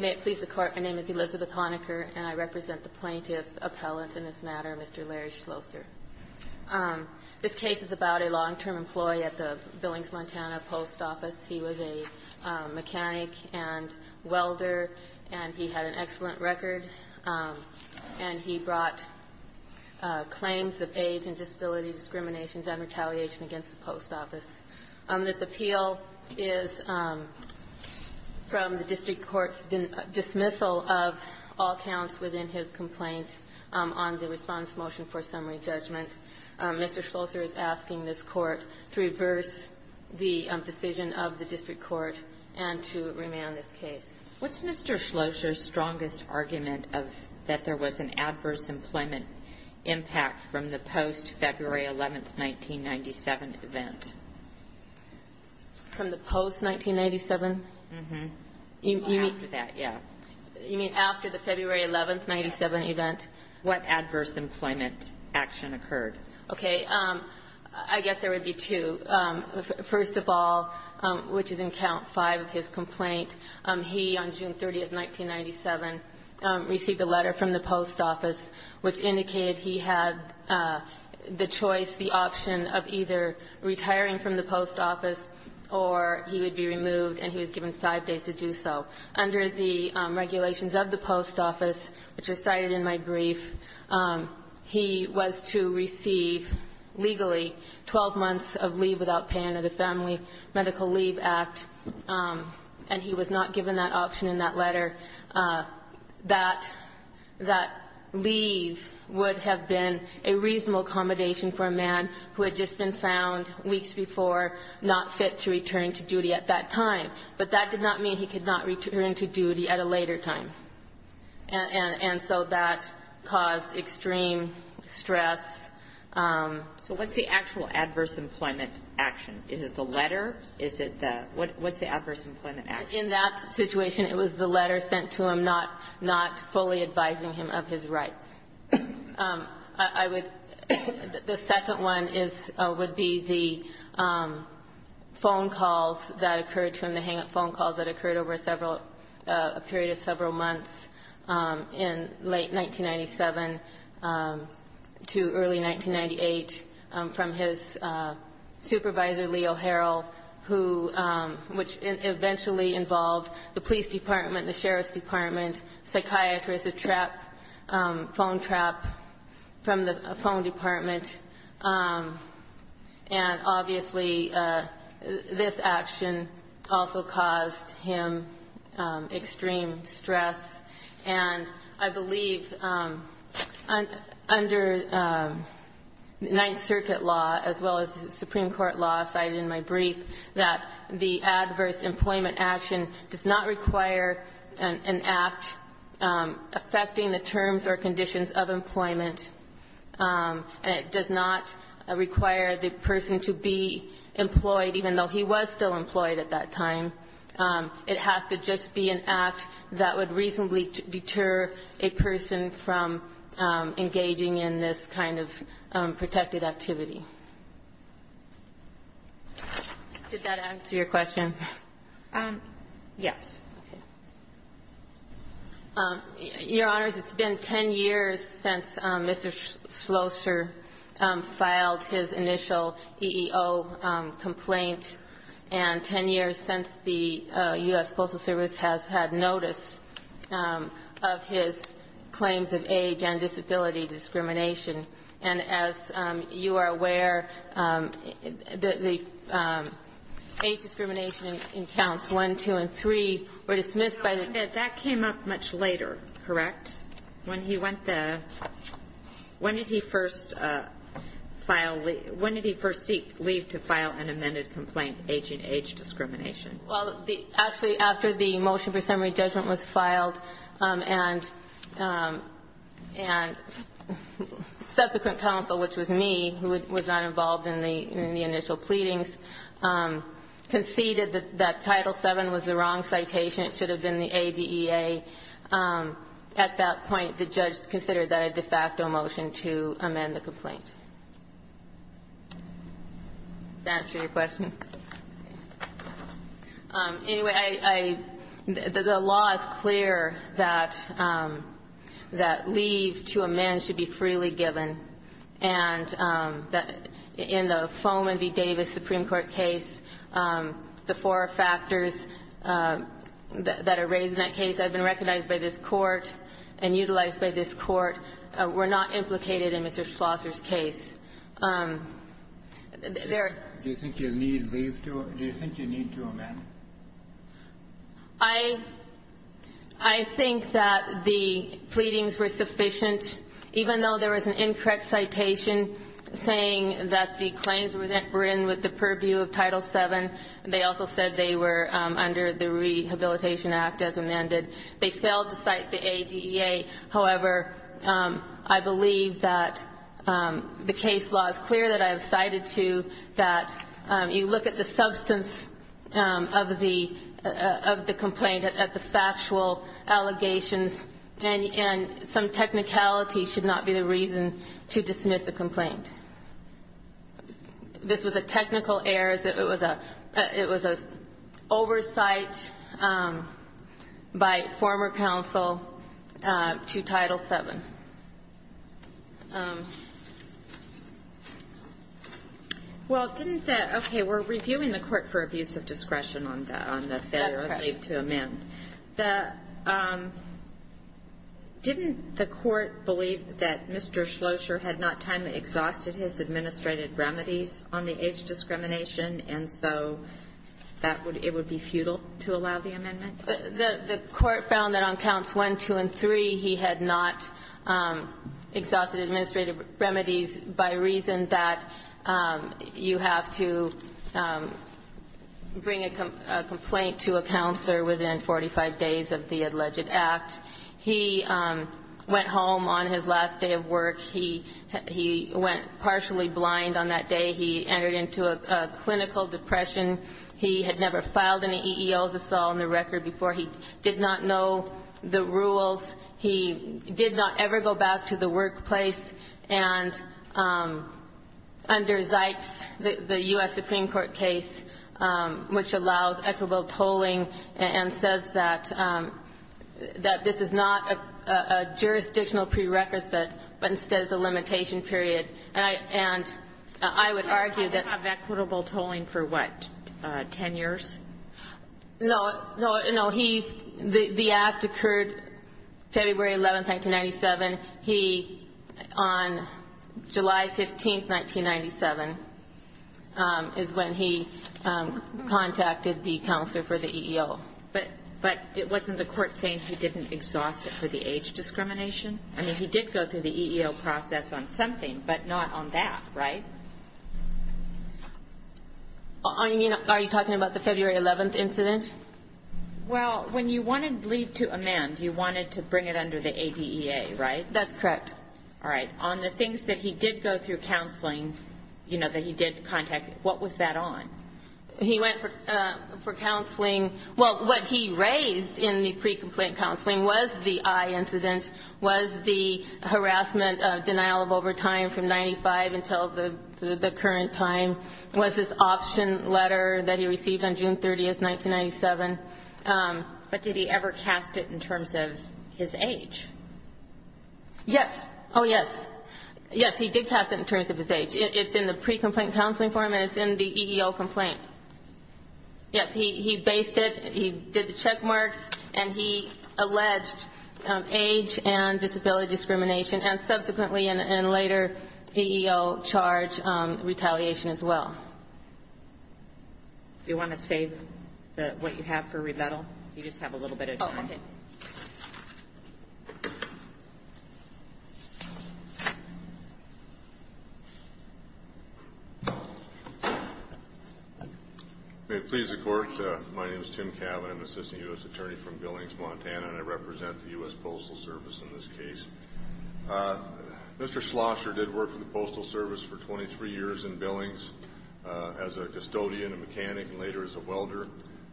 May it please the Court, my name is Elizabeth Honaker, and I represent the plaintiff appellant in this matter, Mr. Larry Schlosser. This case is about a long-term employee at the Billings, Montana, post office. He was a mechanic and welder, and he had an excellent record. And he brought claims of age and disability discriminations and retaliation against the post office. This appeal is from the district court's dismissal of all counts within his complaint on the response motion for summary judgment. Mr. Schlosser is asking this Court to reverse the decision of the district court and to remand this case. What's Mr. Schlosser's strongest argument of that there was an adverse employment impact from the post-February 11, 1997, event? From the post-1997? Mm-hmm. After that, yeah. You mean after the February 11, 1997, event? What adverse employment action occurred? Okay. I guess there would be two. First of all, which is in Count 5 of his complaint, he, on June 30, 1997, received a letter from the post office which indicated he had the choice, the option of either retiring from the post office or he would be removed, and he was given five days to do so. Under the regulations of the post office, which are cited in my brief, he was to receive legally 12 months of leave without paying under the Family Medical Leave Act, and he was not given that option in that letter. That leave would have been a reasonable accommodation for a man who had just been found weeks before not fit to return to duty at that time. But that did not mean he could not return to duty at a later time. And so that caused extreme stress. So what's the actual adverse employment action? Is it the letter? Is it the what's the adverse employment action? In that situation, it was the letter sent to him not fully advising him of his rights. I would, the second one is, would be the phone calls that occurred to him, the hang-up phone calls that occurred over several, a period of several months in late 1997 to early 1998 from his supervisor, Leo Harrell, who, which eventually involved the police department, the sheriff's department, psychiatrists, a trap, phone trap from the phone department. And obviously, this action also caused him extreme stress. And I believe under Ninth Circuit law, as well as the Supreme Court law cited in my brief, that the adverse employment action does not require an act affecting the terms or conditions of employment. And it does not require the person to be employed, even though he was still employed at that time. It has to just be an act that would reasonably deter a person from engaging in this kind of protected activity. Did that answer your question? Yes. Your Honors, it's been 10 years since Mr. Schlosser filed his initial EEO complaint, and 10 years since the U.S. Postal Service has had notice of his claims of age and disability discrimination. And as you are aware, the age discrimination in counts 1, 2, and 3 were dismissed by the That came up much later, correct? When he went there, when did he first seek leave to file an amended complaint, age and age discrimination? Well, actually, after the motion for summary judgment was filed, and subsequent counsel, which was me, who was not involved in the initial pleadings, conceded that Title VII was the wrong citation. It should have been the ADEA. At that point, the judge considered that a de facto motion to amend the complaint. Does that answer your question? Anyway, the law is clear that leave to amend should be freely given. And in the Fohman v. Davis Supreme Court case, the four factors that are raised in that case have been recognized by this Court and utilized by this Court were not implicated in Mr. Schlosser's case. Do you think you need leave to amend? I think that the pleadings were sufficient. Even though there was an incorrect citation saying that the claims were in with the purview of Title VII, they also said they were under the Rehabilitation Act as amended. They failed to cite the ADEA. However, I believe that the case law is clear that I have cited to that you look at the substance of the complaint, at the factual allegations, and some technicality should not be the reason to dismiss a complaint. This was a technical error. It was an oversight by former counsel to Title VII. Well, didn't the – okay. We're reviewing the court for abuse of discretion on the failure of leave to amend. That's correct. Didn't the court believe that Mr. Schlosser had not timely exhausted his administrative remedies on the age discrimination, and so it would be futile to allow the amendment? The court found that on counts 1, 2, and 3, he had not exhausted administrative remedies by reason that you have to bring a complaint to a counselor within 45 days of the alleged act. He went home on his last day of work. He went partially blind on that day. He entered into a clinical depression. He had never filed any EEOs, as I saw on the record, before. He did not know the rules. He did not ever go back to the workplace. And under Zipes, the U.S. Supreme Court case, which allows equitable tolling and says that this is not a jurisdictional prerequisite, but instead is a limitation period, and I would argue that – 10 years? No. No. No. He – the act occurred February 11, 1997. He, on July 15, 1997, is when he contacted the counselor for the EEO. But wasn't the court saying he didn't exhaust it for the age discrimination? I mean, he did go through the EEO process on something, but not on that, right? Are you talking about the February 11 incident? Well, when you wanted leave to amend, you wanted to bring it under the ADEA, right? That's correct. All right. On the things that he did go through counseling, you know, that he did contact, what was that on? He went for counseling – well, what he raised in the pre-complaint counseling was the eye incident, was the harassment, denial of overtime from 95 until the current time, was this option letter that he received on June 30, 1997. But did he ever cast it in terms of his age? Yes. Oh, yes. Yes, he did cast it in terms of his age. It's in the pre-complaint counseling form, and it's in the EEO complaint. Yes, he based it, he did the check marks, and he alleged age and disability discrimination, and subsequently, in a later EEO charge, retaliation as well. Do you want to save what you have for rebuttal? You just have a little bit of time. Oh, okay. May it please the Court, my name is Tim Cabot. I'm an assistant U.S. attorney from Billings, Montana, and I represent the U.S. Postal Service in this case. Mr. Schlosser did work for the Postal Service for 23 years in Billings as a custodian, a mechanic, and later as a welder.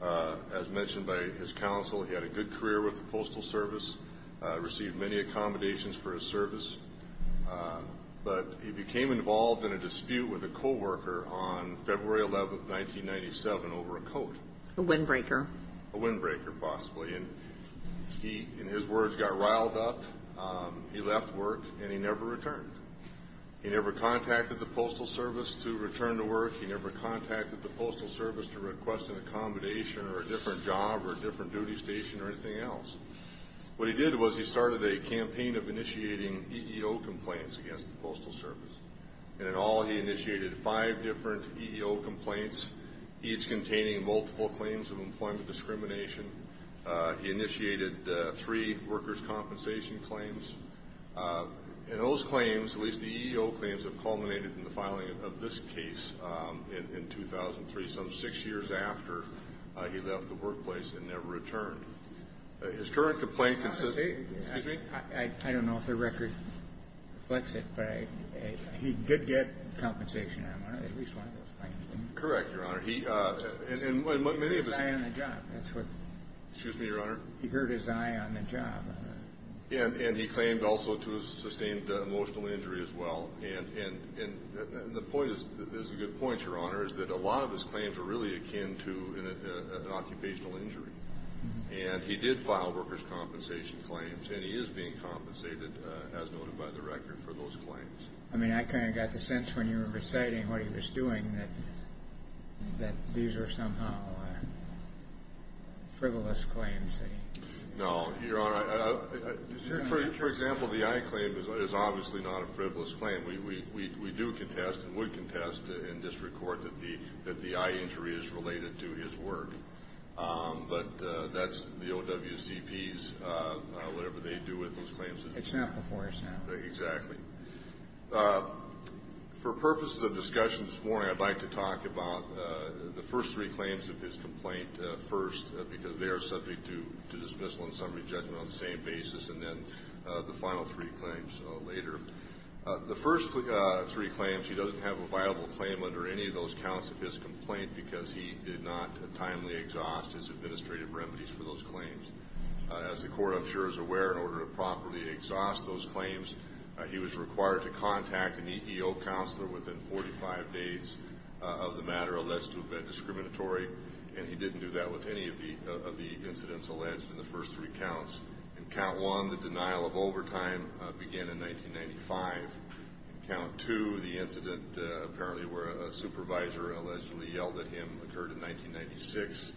As mentioned by his counsel, he had a good career with the Postal Service, received many accommodations for his service. But he became involved in a dispute with a coworker on February 11, 1997, over a coat. A windbreaker. A windbreaker, possibly. And he, in his words, got riled up, he left work, and he never returned. He never contacted the Postal Service to return to work. He never contacted the Postal Service to request an accommodation or a different job or a different duty station or anything else. What he did was he started a campaign of initiating EEO complaints against the Postal Service. And in all, he initiated five different EEO complaints, each containing multiple claims of employment discrimination. He initiated three workers' compensation claims. And those claims, at least the EEO claims, have culminated in the filing of this case in 2003, some six years after he left the workplace and never returned. His current complaint consists of, excuse me? I don't know if the record reflects it, but he did get compensation, at least one of those claims. Correct, Your Honor. He heard his eye on the job. Excuse me, Your Honor? He heard his eye on the job. And he claimed also to have sustained emotional injury as well. And the point is, a good point, Your Honor, is that a lot of his claims were really akin to an occupational injury. And he did file workers' compensation claims. And he is being compensated, as noted by the record, for those claims. I mean, I kind of got the sense when you were reciting what he was doing that these were somehow frivolous claims. No, Your Honor. For example, the eye claim is obviously not a frivolous claim. We do contest and would contest in district court that the eye injury is related to his work. But that's the OWCP's, whatever they do with those claims. It's not before us now. Exactly. For purposes of discussion this morning, I'd like to talk about the first three claims of his complaint first, because they are subject to dismissal and summary judgment on the same basis, and then the final three claims later. The first three claims, he doesn't have a viable claim under any of those counts of his complaint because he did not timely exhaust his administrative remedies for those claims. As the court, I'm sure, is aware, in order to properly exhaust those claims, he was required to contact an EEO counselor within 45 days of the matter alleged to have been discriminatory. And he didn't do that with any of the incidents alleged in the first three counts. In count one, the denial of overtime began in 1995. In count two, the incident apparently where a supervisor allegedly yelled at him occurred in 1996.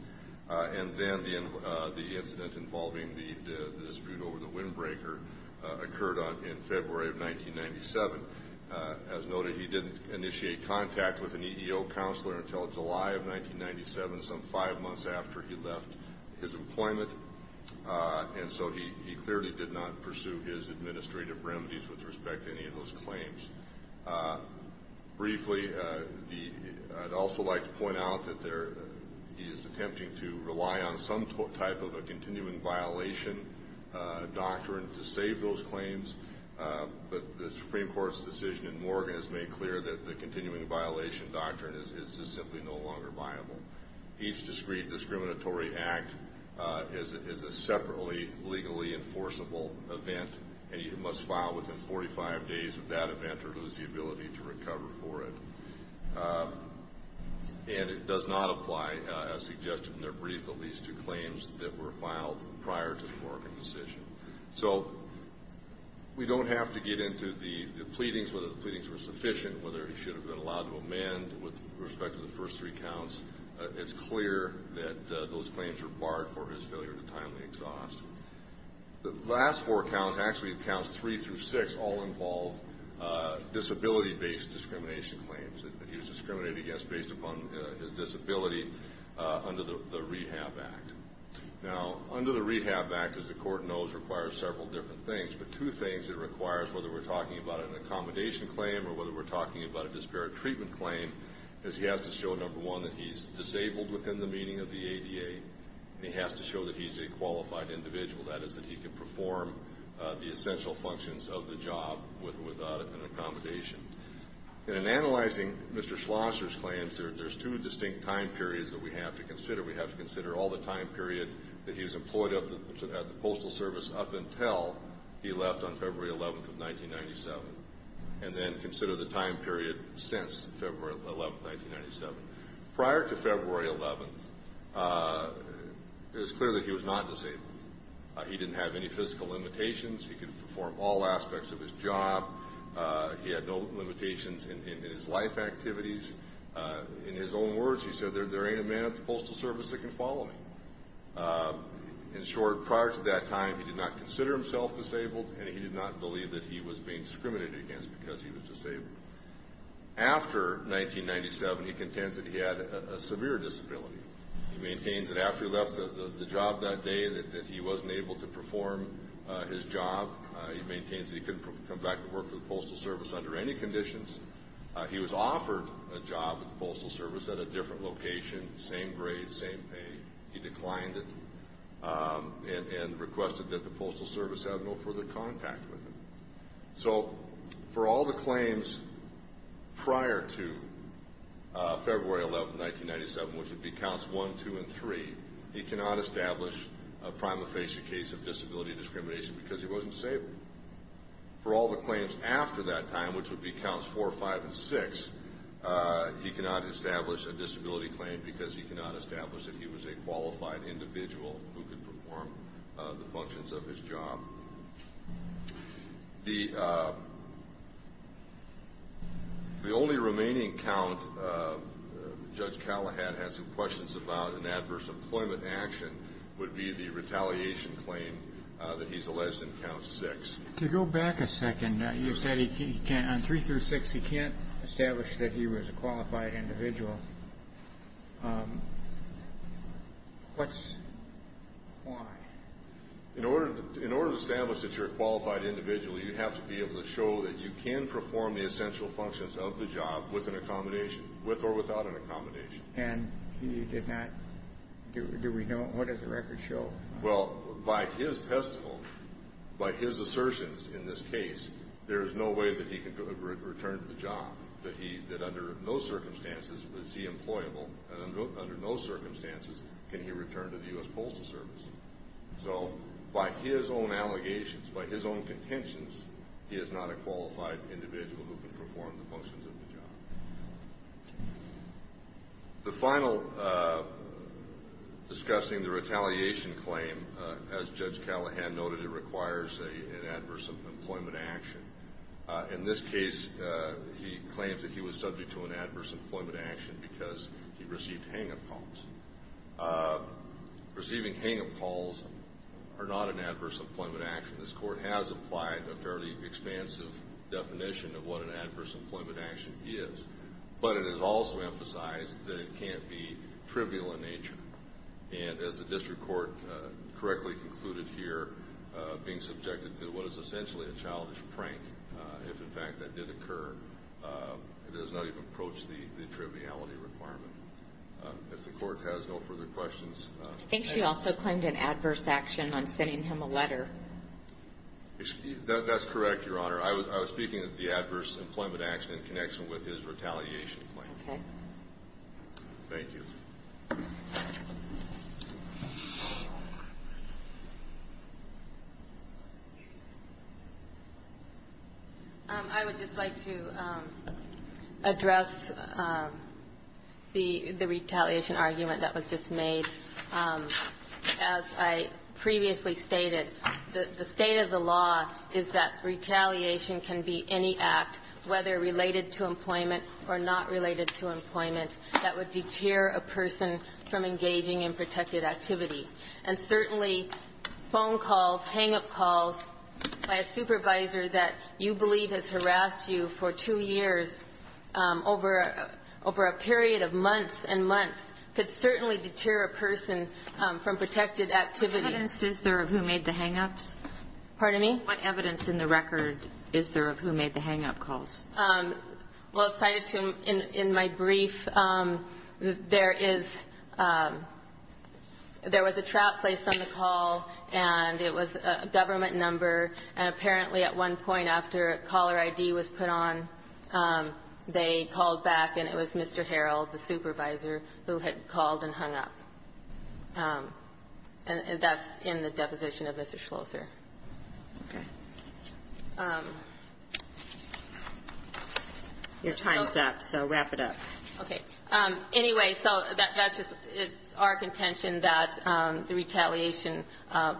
And then the incident involving the dispute over the windbreaker occurred in February of 1997. As noted, he didn't initiate contact with an EEO counselor until July of 1997, some five months after he left his employment. And so he clearly did not pursue his administrative remedies with respect to any of those claims. Briefly, I'd also like to point out that he is attempting to rely on some type of a continuing violation doctrine to save those claims. But the Supreme Court's decision in Morgan has made clear that the continuing violation doctrine is simply no longer viable. Each discreet discriminatory act is a separately legally enforceable event, and you must file within 45 days of that event or lose the ability to recover for it. And it does not apply, as suggested in their brief, at least to claims that were filed prior to the Morgan decision. So we don't have to get into the pleadings, whether the pleadings were sufficient, whether he should have been allowed to amend with respect to the first three counts. It's clear that those claims were barred for his failure to timely exhaust. The last four counts, actually counts three through six, all involve disability-based discrimination claims that he was discriminated against based upon his disability under the Rehab Act. Now, under the Rehab Act, as the Court knows, requires several different things, but two things it requires, whether we're talking about an accommodation claim or whether we're talking about a disparate treatment claim, is he has to show, number one, that he's disabled within the meaning of the ADA, and he has to show that he's a qualified individual, that is, that he can perform the essential functions of the job without an accommodation. And in analyzing Mr. Schlosser's claims, there's two distinct time periods that we have to consider. We have to consider all the time period that he was employed at the Postal Service up until he left on February 11th of 1997, and then consider the time period since February 11th, 1997. Prior to February 11th, it was clear that he was not disabled. He didn't have any physical limitations. He could perform all aspects of his job. He had no limitations in his life activities. In his own words, he said, there ain't a man at the Postal Service that can follow me. In short, prior to that time, he did not consider himself disabled, and he did not believe that he was being discriminated against because he was disabled. After 1997, he contends that he had a severe disability. He maintains that after he left the job that day, that he wasn't able to perform his job. He maintains that he couldn't come back to work for the Postal Service under any conditions. He was offered a job at the Postal Service at a different location, same grade, same pay. He declined it and requested that the Postal Service have no further contact with him. So for all the claims prior to February 11th, 1997, which would be Counts 1, 2, and 3, he cannot establish a prima facie case of disability discrimination because he wasn't disabled. For all the claims after that time, which would be Counts 4, 5, and 6, he cannot establish a disability claim because he cannot establish that he was a qualified individual who could perform the functions of his job. The only remaining count Judge Callahad had some questions about in adverse employment action would be the retaliation claim that he's alleged in Counts 6. To go back a second, you said on 3 through 6 he can't establish that he was a qualified individual. Why? In order to establish that you're a qualified individual, you have to be able to show that you can perform the essential functions of the job with or without an accommodation. And he did not? Do we know? What does the record show? Well, by his testimony, by his assertions in this case, there is no way that he can return to the job, that under no circumstances was he employable, and under no circumstances can he return to the U.S. Postal Service. So by his own allegations, by his own contentions, he is not a qualified individual who can perform the functions of the job. The final discussing the retaliation claim, as Judge Callahad noted, it requires an adverse employment action. In this case, he claims that he was subject to an adverse employment action because he received hang-up calls. Receiving hang-up calls are not an adverse employment action. This Court has applied a fairly expansive definition of what an adverse employment action is, but it has also emphasized that it can't be trivial in nature. And as the District Court correctly concluded here, being subjected to what is essentially a childish prank, if in fact that did occur, it does not even approach the triviality requirement. If the Court has no further questions. I think she also claimed an adverse action on sending him a letter. That's correct, Your Honor. I was speaking of the adverse employment action in connection with his retaliation claim. Okay. Thank you. I would just like to address the retaliation argument that was just made. As I previously stated, the state of the law is that retaliation can be any act, whether related to employment or not related to employment, that would deter a person from engaging in protected activity. And certainly phone calls, hang-up calls by a supervisor that you believe has harassed you for two years over a period of months and months could certainly deter a person from protected activity. What evidence is there of who made the hang-ups? Pardon me? What evidence in the record is there of who made the hang-up calls? Well, it's cited in my brief. There is – there was a trap placed on the call, and it was a government number. And apparently at one point after caller ID was put on, they called back, and it was Mr. Harreld, the supervisor, who had called and hung up. And that's in the deposition of Mr. Schlosser. Okay. Your time is up, so wrap it up. Okay. Anyway, so that's just – it's our contention that the retaliation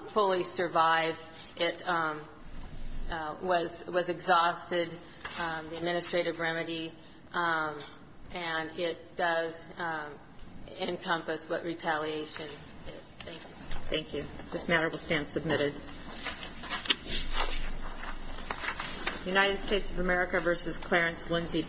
fully survives. It was exhausted, the administrative remedy, and it does encompass what retaliation is. Thank you. Thank you. This matter will stand submitted. United States of America v. Clarence Lindsay, D.C.